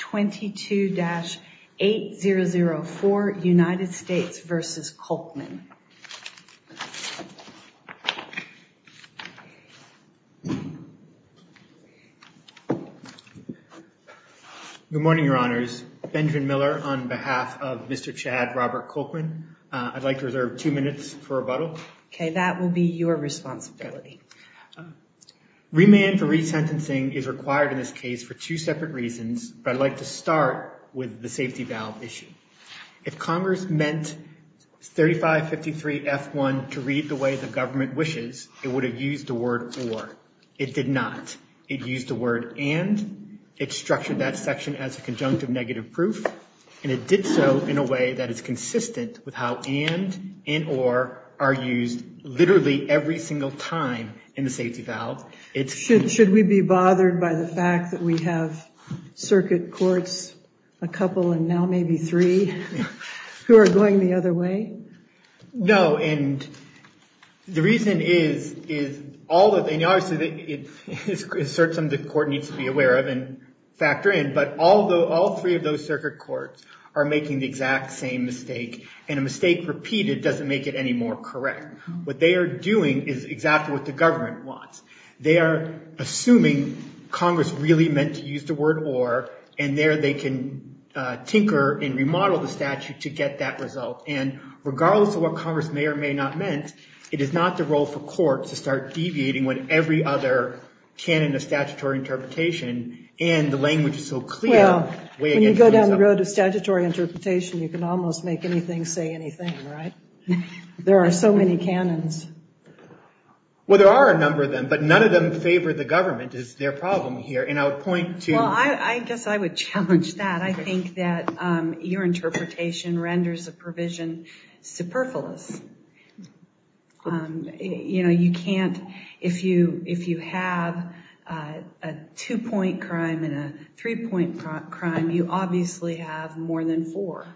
22-8004 United States v. Kolkman Good morning, Your Honors. Benjamin Miller on behalf of Mr. Chad Robert Kolkman. I'd like to reserve two minutes for rebuttal. Okay, that will be your responsibility. Remand for resentencing is required in this case for two separate reasons, but I'd like to start with the safety valve issue. If Congress meant 3553 F1 to read the way the government wishes, it would have used the word or. It did not. It used the word and, it structured that section as a conjunctive negative proof, and it did so in a way that is consistent with how and and or are used literally every single time in the safety valve. Should we be bothered by the fact that we have circuit courts, a couple and now maybe three, who are going the other way? No, and the reason is, is all that they know is that it is certain the court needs to be aware of and factor in, but although all three of those circuit courts are making the exact same mistake, and a mistake repeated doesn't make it any more correct. What they are doing is exactly what the government wants. They are assuming Congress really meant to use the word or, and there they can tinker and remodel the statute to get that result, and regardless of what Congress may or may not meant, it is not the role for court to start deviating when every other canon of statutory interpretation and the language is so clear. Well, when you go down the road of statutory interpretation, you can almost make anything say anything, right? There are so many canons. Well, there are a number of them, but none of them favor the government, is their problem here, and I would point to... Well, I guess I would challenge that. I think that your interpretation renders a provision superfluous. You know, you can't, if you, if you have a two-point crime and a three-point crime, you obviously have more than four,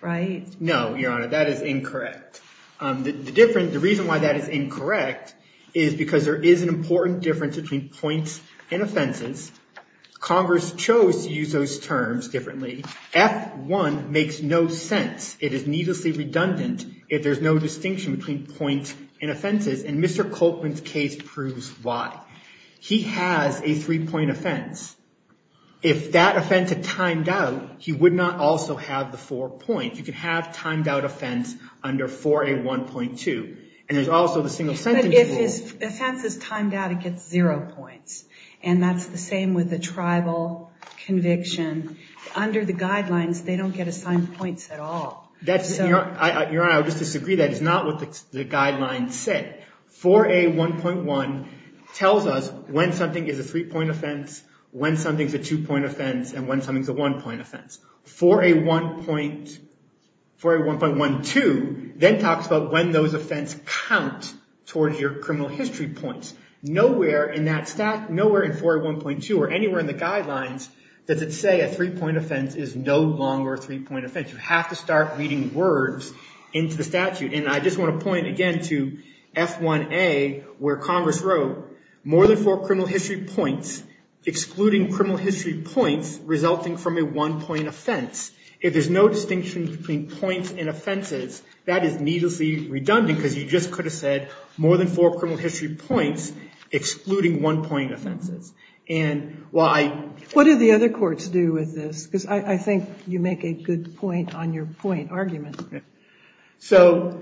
right? No, that is incorrect. The reason why that is incorrect is because there is an important difference between points and offenses. Congress chose to use those terms differently. F1 makes no sense. It is needlessly redundant if there's no distinction between points and offenses, and Mr. Colquitt's case proves why. He has a three-point offense. If that offense had timed out, he would not also have the four points. You could have timed out offense under 4A1.2, and there's also the single sentence rule. But if his offense is timed out, it gets zero points, and that's the same with the tribal conviction. Under the guidelines, they don't get assigned points at all. That's... Your Honor, I would just disagree. That is not what the guidelines said. 4A1.1 tells us when something is a three-point offense, when something's a two-point offense, and when something's a one-point offense. 4A1.1.2 then talks about when those offense count towards your criminal history points. Nowhere in that stat, nowhere in 4A1.2 or anywhere in the guidelines does it say a three-point offense is no longer a three-point offense. You have to start reading words into the statute, and I just want to point again to F1A, where Congress wrote, more than four criminal history points, excluding criminal history points, resulting from a one-point offense. If there's no distinction between points and offenses, that is needlessly redundant, because you just could have said, more than four criminal history points, excluding one-point offenses. And while I... What do the other courts do with this? Because I think you make a good point on your point argument. So,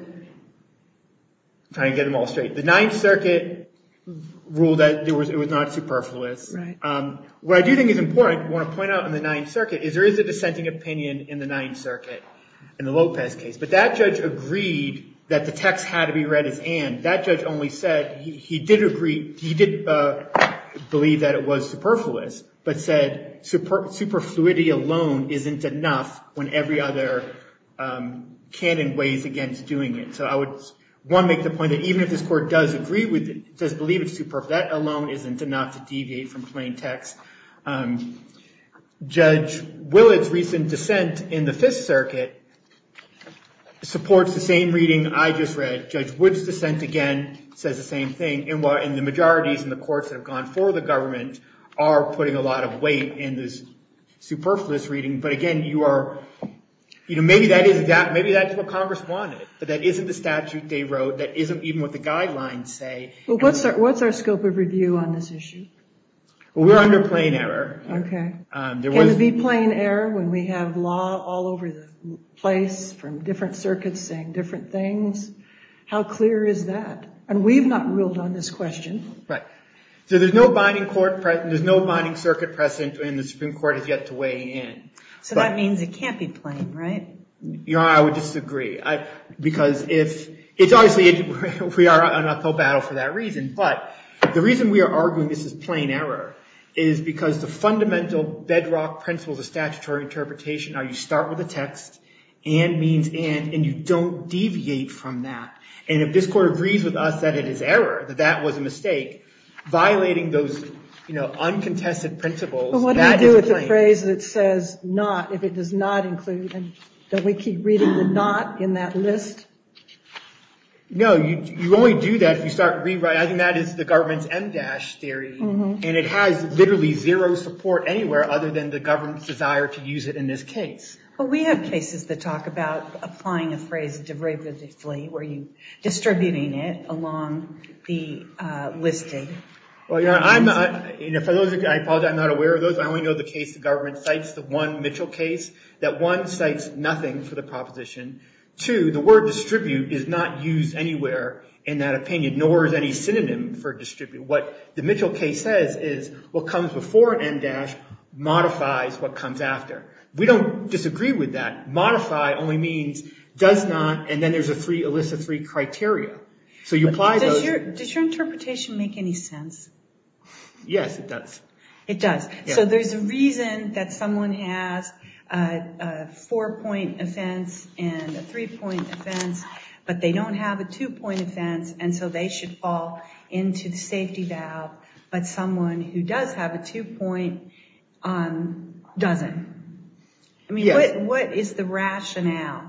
trying to get them all straight. The Ninth Circuit ruled that it was not superfluous. What I do think is important, I want to point out in the Ninth Circuit, is there is a dissenting opinion in the Ninth Circuit in the Lopez case. But that judge agreed that the text had to be read as and. That judge only said he did agree, he did believe that it was superfluous, but said superfluity alone isn't enough when every other canon weighs against doing it. So I would, one, make the point that even if this court does agree with it, does believe it's superfluous, that alone isn't enough to deviate from plain text. Judge Willard's recent dissent in the Fifth Circuit supports the same reading I just read. Judge Wood's dissent, again, says the same thing. And while in the majorities in the courts that have gone for the government are putting a lot of weight in this superfluous reading, but again, you are, you know, maybe that is what Congress wanted, but that isn't the statute they wrote, that isn't even what the guidelines say. Well, what's our scope of review on this issue? Well, we're under plain error. Okay. Can it be plain error when we have law all over the place from different circuits saying different things? How clear is that? And we've not ruled on this question. Right. So there's no binding court precedent, there's no binding circuit precedent when the Supreme Court has yet to weigh in. So that means it can't be plain, right? Your Honor, I would disagree. Because if, it's obviously, we are on uphill battle for that reason. But the reason we are arguing this is plain error is because the fundamental bedrock principles of statutory interpretation are you start with a text, and means and, and you don't that that was a mistake, violating those, you know, uncontested principles. But what do you do with a phrase that says not if it does not include, and don't we keep reading the not in that list? No, you only do that if you start rewriting, that is the government's MDASH theory. And it has literally zero support anywhere other than the government's desire to use it in this case. But we have cases that talk about applying a the listing. Well, Your Honor, I'm, for those, I apologize, I'm not aware of those. I only know the case the government cites, the one Mitchell case, that one cites nothing for the proposition. Two, the word distribute is not used anywhere in that opinion, nor is any synonym for distribute. What the Mitchell case says is what comes before an MDASH modifies what comes after. We don't disagree with that. Modify only means does not, and then there's a three, criteria. So you apply those. Does your interpretation make any sense? Yes, it does. It does. So there's a reason that someone has a four-point offense and a three-point offense, but they don't have a two-point offense, and so they should fall into the safety valve. But someone who does have a two-point doesn't. I mean, what is the rationale?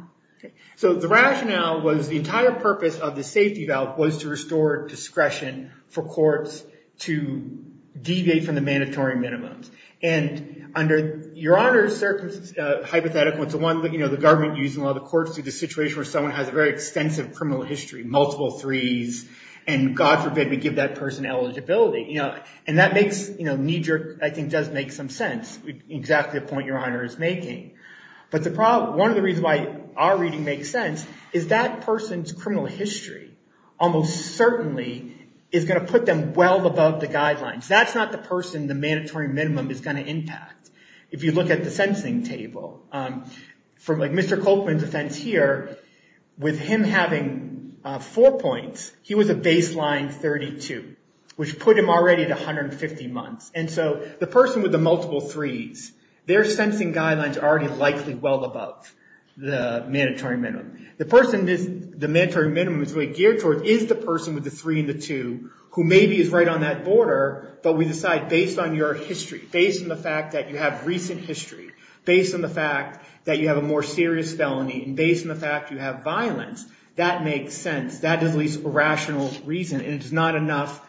So the rationale was the entire purpose of the safety valve was to restore discretion for courts to deviate from the mandatory minimums. And under Your Honor's hypothetical, it's the one that the government used in a lot of the courts to the situation where someone has a very extensive criminal history, multiple threes, and God forbid we give that person eligibility. And that makes, knee-jerk, I think does make some sense, exactly the point Your Honor is making. But one of the reasons why our reading makes sense is that person's criminal history almost certainly is going to put them well above the guidelines. That's not the person the mandatory minimum is going to impact. If you look at the sensing table, from Mr. Coltman's offense here, with him having four points, he was a baseline 32, which put him already at 150 months. And so the person with the multiple threes, their sensing guidelines are already likely well above the mandatory minimum. The person the mandatory minimum is really geared towards is the person with the three and the two who maybe is right on that border, but we decide based on your history, based on the fact that you have recent history, based on the fact that you have a more serious felony, and based on the fact you have violence, that makes sense. That is the least rational reason, and it's not enough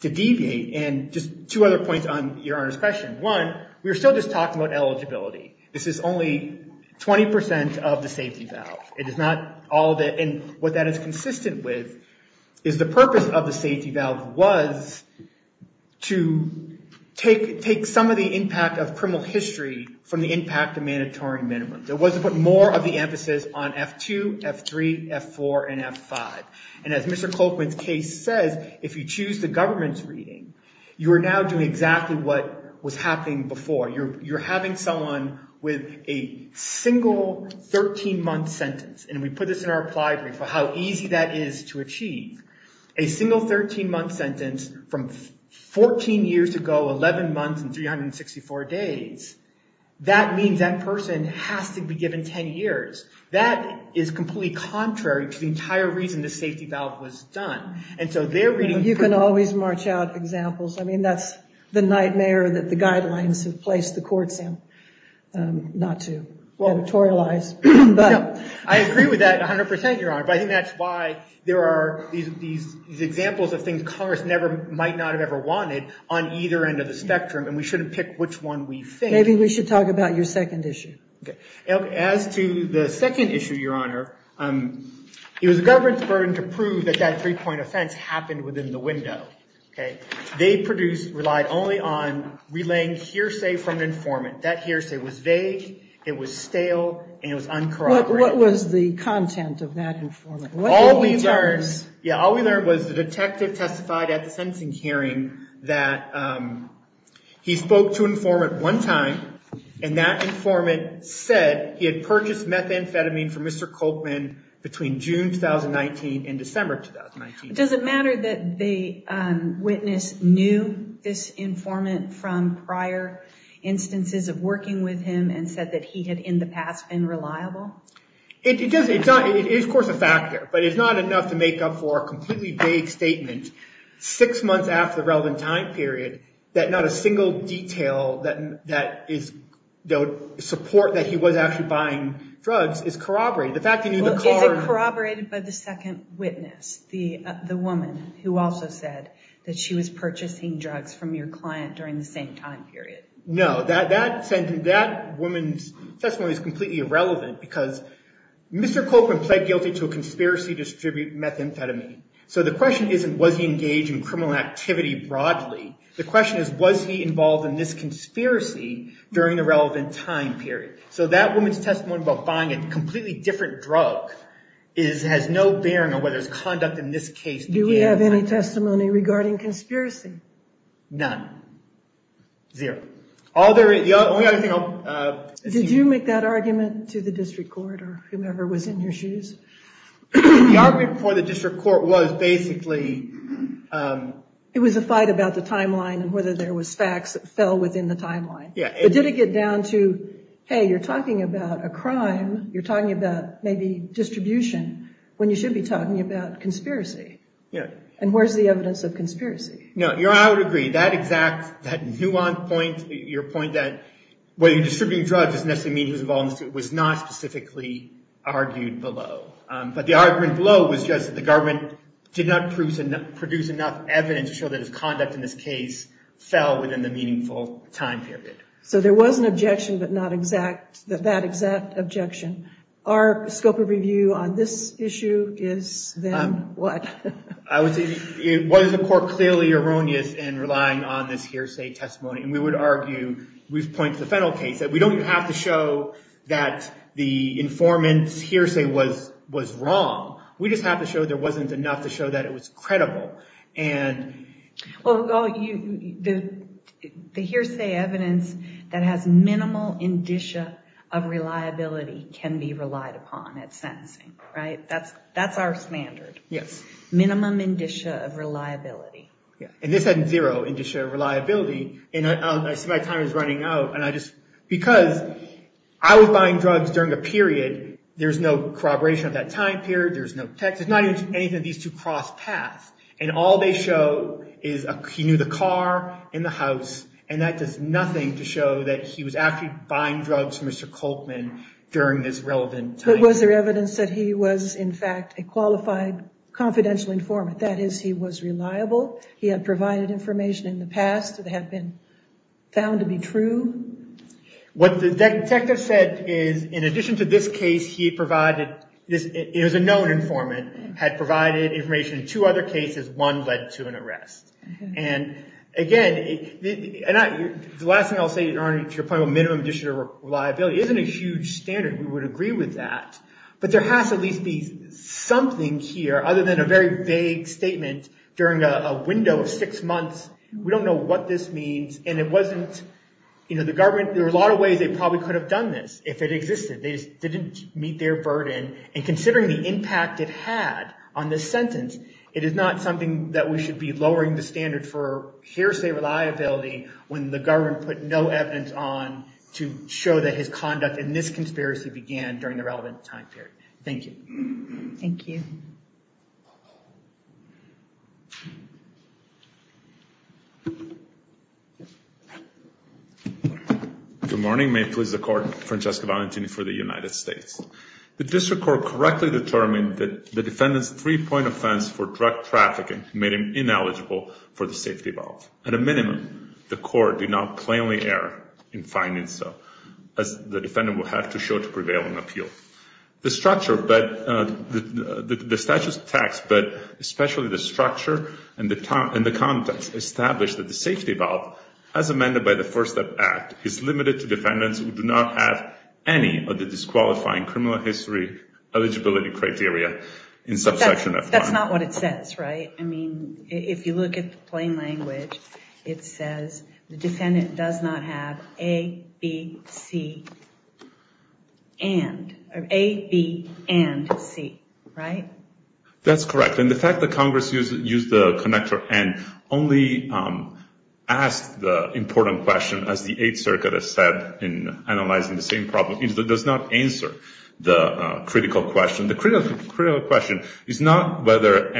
to deviate. And just two other points on Your Honor's question. One, we were still just talking about eligibility. This is only 20% of the safety valve. It is not all of it. And what that is consistent with is the purpose of the safety valve was to take some of the impact of criminal history from the impact of mandatory minimums. It was to put more of the emphasis on F2, F3, F4, and F5. And as Mr. Colquitt's case says, if you choose the government's reading, you are now doing exactly what was happening before. You're having someone with a single 13-month sentence, and we put this in our applied brief for how easy that is to achieve. A single 13-month sentence from 14 years ago, 11 months and 364 days, that means that person has to be given 10 years. That is completely contrary to the entire reason the safety valve was done. And so they're reading... You can always march out examples. I mean, that's the nightmare that the guidelines have placed the courts in, not to editorialize. I agree with that 100%, Your Honor, but I think that's why there are these examples of things Congress never might not have ever wanted on either end of the spectrum, and we shouldn't pick which one we think. Maybe we should talk about your second issue. Okay. As to the second issue, Your Honor, it was the government's burden to prove that that three-point offense happened within the window. They relied only on relaying hearsay from an informant. That hearsay was vague, it was stale, and it was uncorroborated. What was the content of that informant? All we learned was the detective testified at the time, and that informant said he had purchased methamphetamine from Mr. Coltman between June 2019 and December 2019. Does it matter that the witness knew this informant from prior instances of working with him and said that he had in the past been reliable? It is, of course, a factor, but it's not enough to make up for a completely vague statement six months after the relevant time period that not a single detail that would support that he was actually buying drugs is corroborated. Is it corroborated by the second witness, the woman who also said that she was purchasing drugs from your client during the same time period? No. That woman's testimony is completely irrelevant because Mr. Coltman pled guilty to a conspiracy to distribute methamphetamine, so the question is, was he involved in this conspiracy during the relevant time period? So that woman's testimony about buying a completely different drug has no bearing on whether there's conduct in this case. Do we have any testimony regarding conspiracy? None. Zero. The only other thing I'll... Did you make that argument to the district court or whomever was in your shoes? The argument for the district court was basically... It was a fight about the timeline and whether there was facts that fell within the timeline. Yeah. But did it get down to, hey, you're talking about a crime, you're talking about maybe distribution when you should be talking about conspiracy? Yeah. And where's the evidence of conspiracy? No. I would agree. That exact, that nuanced point, your point that whether you're distributing drugs doesn't necessarily mean he was involved in this, was not specifically argued below. But the argument below was just that the government did not produce enough evidence to show that his conduct in this case fell within the meaningful time period. So there was an objection, but not that exact objection. Our scope of review on this issue is then what? I would say, was the court clearly erroneous in relying on this hearsay testimony? And we would argue, we've pointed to the federal case, that we don't even have to show that the informant's hearsay was wrong. We just have to show there wasn't enough to show that it was credible. Well, the hearsay evidence that has minimal indicia of reliability can be relied upon at sentencing, right? That's our standard. Yes. Minimum indicia of reliability. Yeah. And this had zero indicia of reliability. And I see my time is running out. And I just, because I was buying drugs during a period, there's no corroboration of that time period. There's no text. It's not even anything. These two cross paths. And all they show is he knew the car and the house. And that does nothing to show that he was actually buying drugs from Mr. Coltman during this relevant time. But was there evidence that he was, in fact, a qualified, confidential informant? That is, he was reliable. He had provided information in the past that had been found to be true. What the detective said is, in addition to this case, he provided, it was a known informant, had provided information in two other cases. One led to an arrest. And again, the last thing I'll say, your point about minimum indicia of reliability isn't a huge standard. We would agree with that. But there has to at least be something here, other than a very vague statement during a window of six months. We don't know what this means. And it wasn't, you know, the government, there were a lot of ways they probably could have done this if it existed. They just didn't meet their burden. And considering the impact it had on this sentence, it is not something that we should be lowering the standard for hearsay reliability when the government put no evidence on to show that his conduct in this conspiracy began during the relevant time period. Thank you. Thank you. Good morning. May it please the Court. Francesco Valentini for the United States. The District Court correctly determined that the defendant's three-point offense for drug trafficking made him ineligible for the safety valve. At a minimum, the Court did not plainly err in finding so, as the defendant will have to show to prevail in appeal. The statute's text, but especially the structure and the context established that the safety valve, as amended by the First Act, is limited to defendants who do not have any of the disqualifying criminal history eligibility criteria in subsection F1. That's not what it says, right? If you look at the plain language, it says the defendant does not have A, B, C, and. A, B, and C, right? That's correct. And the fact that Congress used the connector and only asked the important question, as the Eighth Circuit has said in analyzing the same problem, it does not answer the critical question. The critical question is not whether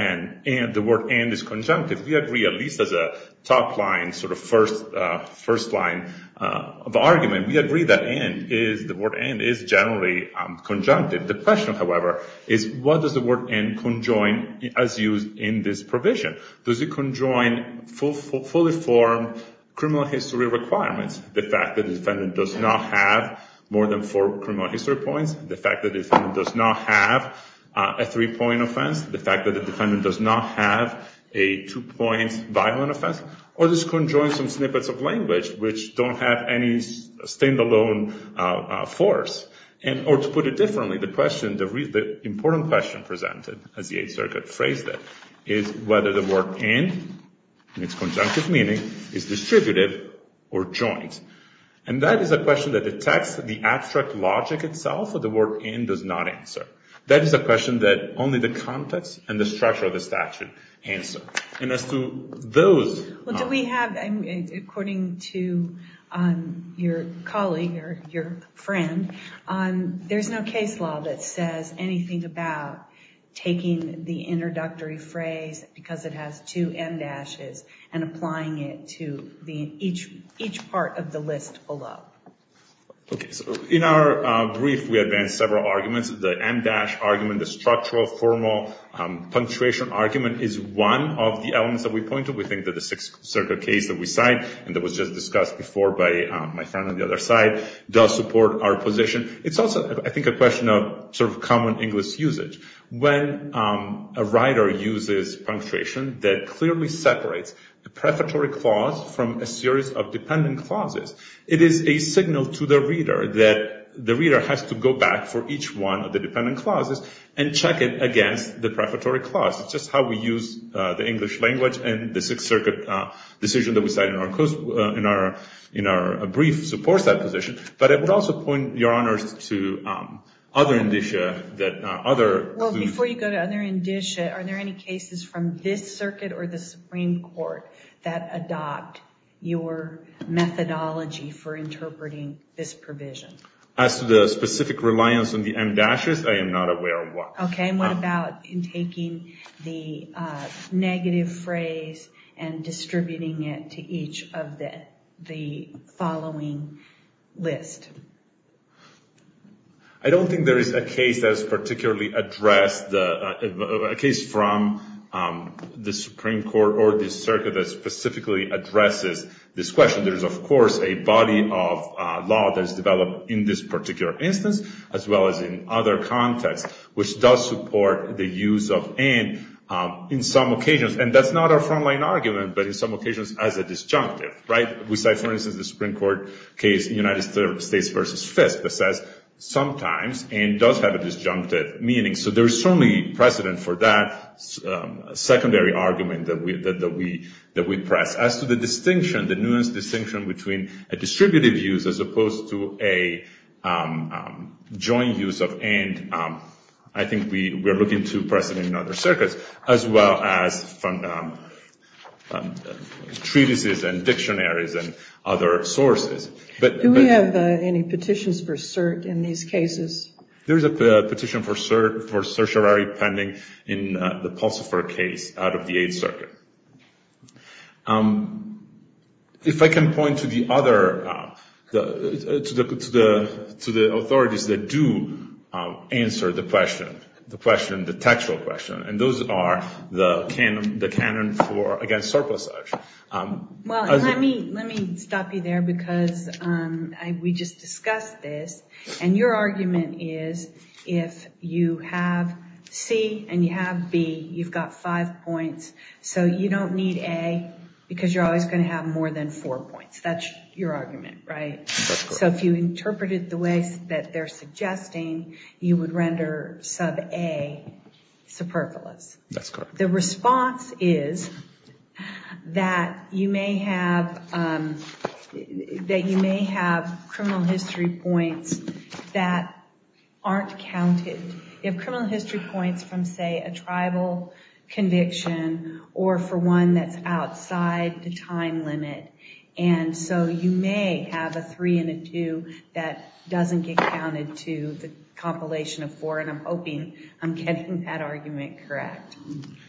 the word and is conjunctive. We agree, at least as a top line, sort of first line of argument, we agree that the word and is generally conjunctive. The question, however, is what does the word and conjoin as used in this provision? Does it conjoin fully formed criminal history requirements? The fact that the defendant does not have more than four criminal history points, the fact that the defendant does not have a three-point offense, the fact that the defendant does not have a two-point violent offense, or does it conjoin some snippets of language which don't have any standalone force? Or to put it differently, the important question presented, as the Eighth Circuit phrased it, is whether the word and, in its conjunctive meaning, is distributive or joint. And that is a question that detects the abstract logic itself. The word and does not answer. That is a question that only the context and the structure of the statute answer. And as to those... Well, do we have, according to your colleague or your friend, there's no case law that says anything about taking the introductory phrase, because it has two em dashes, and applying it to each part of the list below. In our brief, we advance several arguments. The em dash argument, the structural, formal punctuation argument, is one of the elements that we point to. We think that the Sixth Circuit case that we cite, and that was just discussed before by my friend on the other side, does support our position. It's also, I think, a question of sort of common English usage. When a writer uses punctuation that clearly separates the prefatory clause from a series of dependent clauses, it is a signal to the reader that the reader has to go back for each one of the dependent clauses and check it against the prefatory clause. It's just how we use the English language, and the Sixth Circuit decision that we cite in our brief supports that position. But I would also point, Your Honors, to other indicia that other... Well, before you go to other indicia, are there any cases from this circuit or the Supreme Court that adopt your methodology for interpreting this provision? As to the specific reliance on the em dashes, I am not aware of one. Okay, and what about in taking the negative phrase and distributing it to each of the following list? I don't think there is a case that is particularly addressed... A case from the Supreme Court or the circuit that specifically addresses this question. There is, of course, a body of law that is developed in this particular instance, as well as in other contexts, which does support the use of and in some occasions. And that's not our frontline argument, but in some occasions as a disjunctive, right? We cite, for instance, the Supreme Court case in United States v. Fisk that says, sometimes, and does have a disjunctive meaning. So there is certainly precedent for that secondary argument that we press. As to the distinction, the nuanced distinction between a distributive use as opposed to a joint use of and, I think we are looking to precedent in other circuits, as well as from treatises and dictionaries and other sources. Do we have any petitions for cert in these cases? There is a petition for cert for certiorari pending in the Pulsifer case out of the Eighth Circuit. If I can point to the other, to the authorities that do answer the question, the question, the textual question, and those are the canon for, again, surplus search. Well, let me stop you there because we just discussed this. And your argument is, if you have C and you have B, you've got five points. So you don't need A because you're always going to have more than four points. That's your argument, right? So if you interpreted the way that they're suggesting, you would render sub A superfluous. The response is that you may have criminal history points that aren't counted. If criminal history points from, say, a tribal conviction or for one that's outside the time limit, and so you may have a three and a two that doesn't get counted to the compilation of four, I'm hoping I'm getting that argument correct.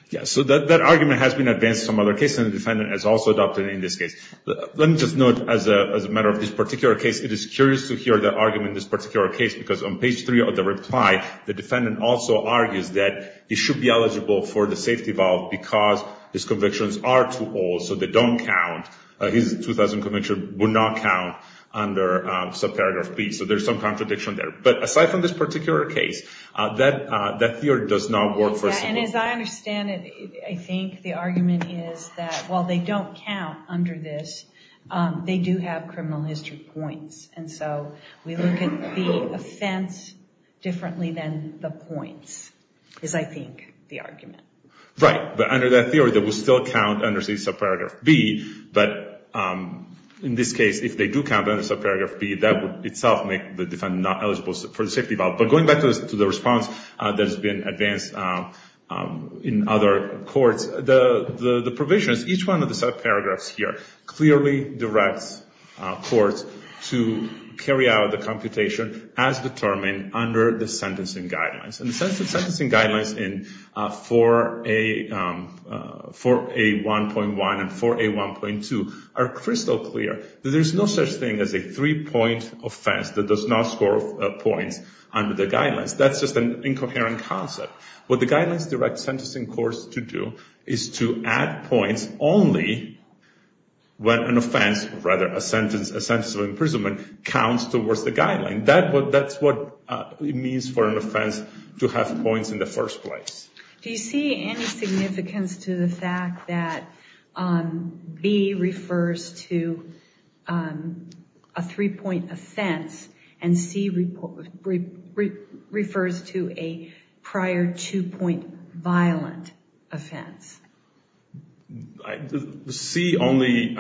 Yeah, so that argument has been advanced in some other cases, and the defendant has also adopted it in this case. Let me just note, as a matter of this particular case, it is curious to hear the argument in this particular case, because on page three of the reply, the defendant also argues that he should be eligible for the safety valve because his convictions are too old, so they don't count. His 2000 conviction would not count under subparagraph B. So there's some contradiction there. Aside from this particular case, that theory does not work. Yeah, and as I understand it, I think the argument is that while they don't count under this, they do have criminal history points. And so we look at the offense differently than the points is, I think, the argument. Right, but under that theory, they will still count under subparagraph B, but in this case, if they do count under subparagraph B, that would itself make the defendant not eligible for the safety valve. But going back to the response that has been advanced in other courts, the provisions, each one of the subparagraphs here clearly directs courts to carry out the computation as determined under the sentencing guidelines. And the sentencing guidelines in 4A1.1 and 4A1.2 are crystal clear. There's no such thing as a three-point offense that does not score points under the guidelines. That's just an incoherent concept. What the guidelines direct sentencing courts to do is to add points only when an offense, rather a sentence of imprisonment, counts towards the guideline. That's what it means for an offense to have points in the first place. Do you see any significance to the fact that B refers to a three-point offense and C refers to a prior two-point violent offense? C only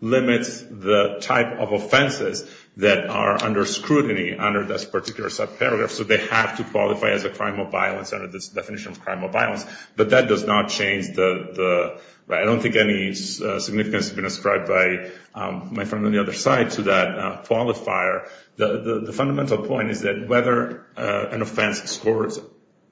limits the type of offenses that are under scrutiny under this particular subparagraph. So they have to qualify as a crime of violence under this definition of crime of violence. But that does not change the... I don't think any significance has been ascribed by my friend on the other side to that qualifier. The fundamental point is that whether an offense scores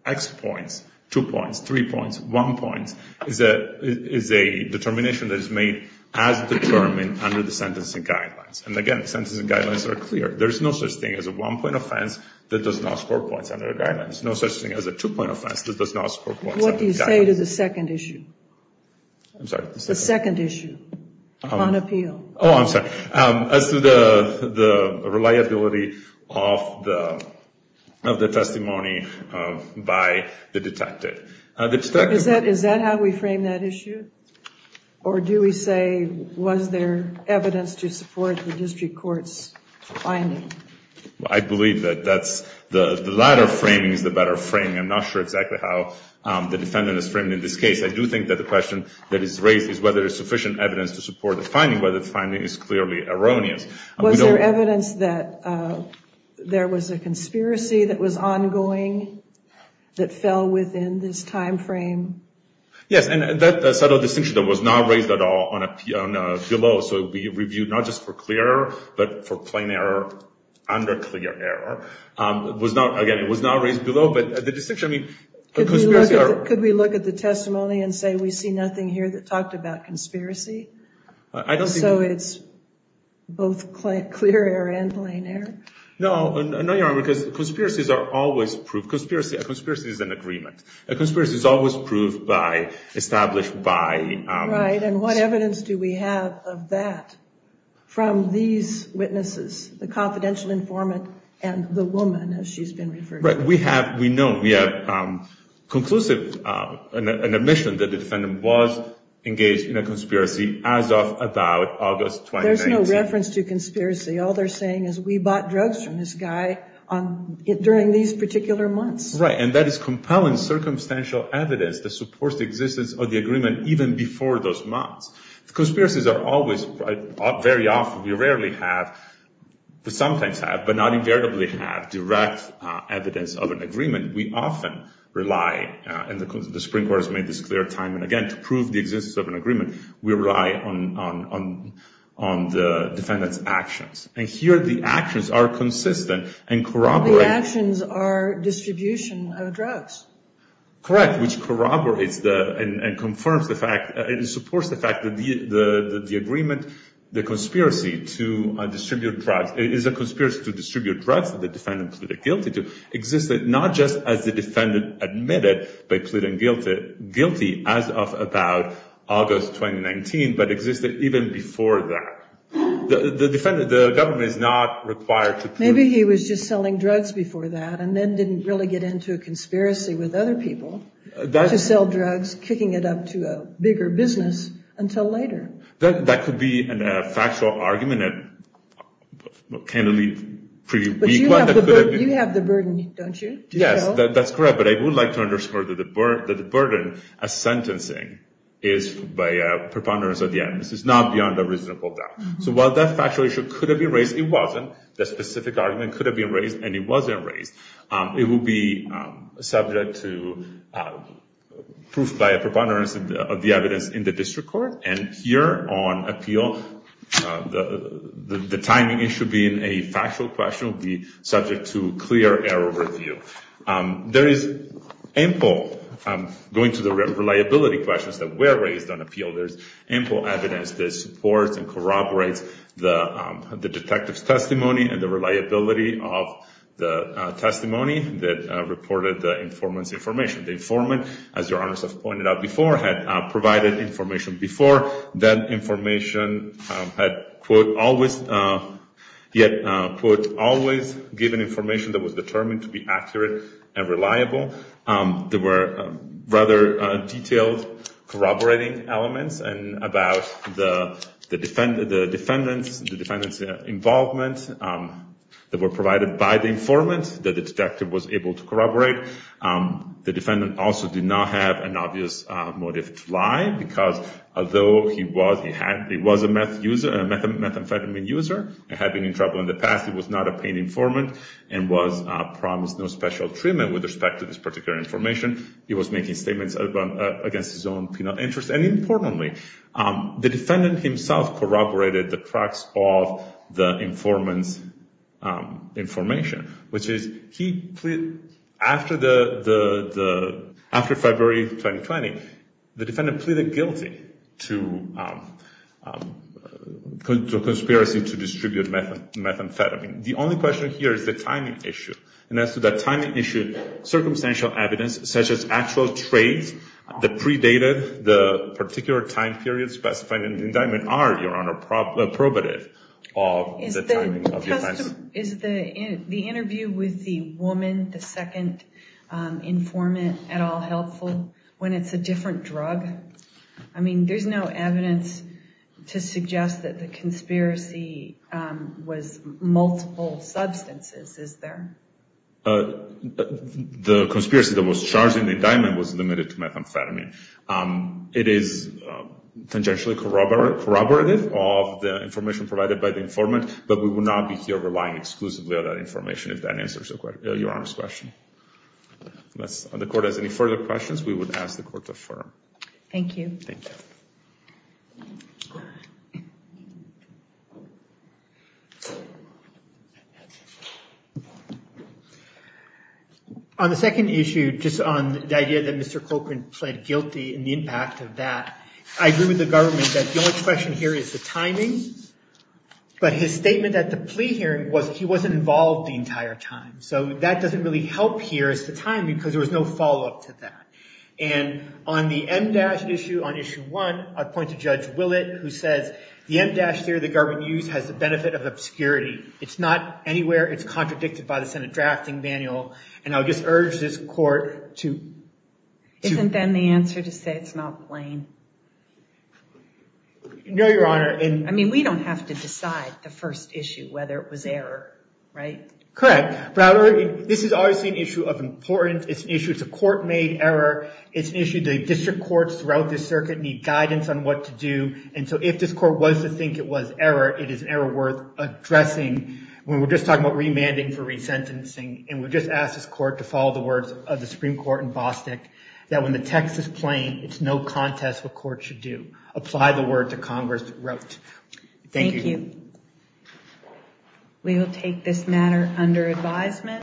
X points, two points, three points, one point, is a determination that is made as determined under the sentencing guidelines. And again, the sentencing guidelines are clear. There is no such thing as a one-point offense that does not score points under the guidelines. No such thing as a two-point offense that does not score points under the guidelines. What do you say to the second issue? I'm sorry? The second issue on appeal. Oh, I'm sorry. As to the reliability of the testimony by the detective. Is that how we frame that issue? Or do we say, was there evidence to support the district court's finding? I believe that the latter framing is the better framing. I'm not sure exactly how the defendant is framed in this case. I do think that the question that is raised is whether there is sufficient evidence to support the finding, whether the finding is clearly erroneous. Was there evidence that there was a conspiracy that was ongoing that fell within this time frame? Yes. And that subtle distinction that was not raised at all below. So it would be reviewed not just for clear error, but for plain error under clear error. Again, it was not raised below. But the distinction, I mean, the conspiracy... Could we look at the testimony and say we see nothing here that talked about conspiracy? So it's both clear error and plain error? No. No, Your Honor, because conspiracies are always proved. A conspiracy is an agreement. A conspiracy is always proved by, established by... Right. And what evidence do we have of that from these witnesses, the confidential informant and the woman, as she's been referred to? Right. We have, we know, we have conclusive admission that the defendant was engaged in a conspiracy as of about August 2019. There's no reference to conspiracy. All they're saying is we bought drugs from this guy during these particular months. Right. And that is compelling circumstantial evidence that supports the existence of the agreement even before those months. Conspiracies are always, very often, we rarely have, sometimes have, but not invariably have direct evidence of an agreement. We often rely, and the Supreme Court has made this clear time and again, to prove the existence of an agreement, we rely on the defendant's actions. And here the actions are consistent and corroborate... The actions are distribution of drugs. Correct. Which corroborates and confirms the fact, it supports the fact that the agreement, the conspiracy to distribute drugs, is a conspiracy to distribute drugs that the defendant pleaded guilty to, existed not just as the defendant admitted by pleading guilty as of about August 2019, The government is not required to prove... Maybe he was just selling drugs before that, and then didn't really get into a conspiracy with other people to sell drugs, kicking it up to a bigger business until later. That could be a factual argument, a candidly pretty weak one. You have the burden, don't you? Yes, that's correct. But I would like to underscore that the burden of sentencing is by preponderance at the end. This is not beyond a reasonable doubt. So while that factual issue could have been raised, the specific argument could have been raised and it wasn't raised. It will be subject to proof by a preponderance of the evidence in the district court. And here on appeal, the timing issue being a factual question will be subject to clear error review. There is ample... Going to the reliability questions that were raised on appeal, there's ample evidence that supports and corroborates the detective's testimony and the reliability of the testimony that reported the informant's information. The informant, as your honors have pointed out before, had provided information before. That information had, quote, always... He had, quote, always given information that was determined to be accurate and reliable. There were rather detailed corroborating elements about the defendant's involvement that were provided by the informant that the detective was able to corroborate. The defendant also did not have an obvious motive to lie because although he was a methamphetamine user and had been in trouble in the past, he was not a pain informant and was promised no special treatment with respect to this particular information. He was making statements against his own penile interest. And importantly, the defendant himself corroborated the crux of the informant's information, which is he pleaded... After February 2020, the defendant pleaded guilty to conspiracy to distribute methamphetamine. The only question here is the timing issue. And as to the timing issue, circumstantial evidence, such as actual trades that predated the particular time period specified in the indictment, are, your honor, probative of the timing of the offense. Is the interview with the woman, the second informant, at all helpful when it's a different drug? I mean, there's no evidence to suggest that the conspiracy was multiple substances, is there? The conspiracy that was charged in the indictment was limited to methamphetamine. It is tangentially corroborative of the information provided by the informant, but we will not be here relying exclusively on that information if that answers your honor's question. The court has any further questions, we would ask the court to affirm. Thank you. On the second issue, just on the idea that Mr. Cochran pled guilty and the impact of that, I agree with the government that the only question here is the timing, but his statement at the plea hearing was he wasn't involved the entire time. So that doesn't really help here as to timing because there was no follow-up to that. And on the MDASH issue, on issue one, I'll point to Judge Willett who says, the MDASH theory the government used has the benefit of obscurity. It's not anywhere. It's contradicted by the Senate drafting manual. And I'll just urge this court to- Isn't then the answer to say it's not plain? No, your honor. I mean, we don't have to decide the first issue, whether it was error, right? Correct. But this is obviously an issue of importance. It's a court-made error. It's an issue the district courts throughout the circuit need guidance on what to do. And so if this court was to think it was error, it is an error worth addressing. When we're just talking about remanding for resentencing, and we just ask this court to follow the words of the Supreme Court in Bostick, that when the text is plain, it's no contest what courts should do. Apply the word to Congress wrote. Thank you. We will take this matter under advisement.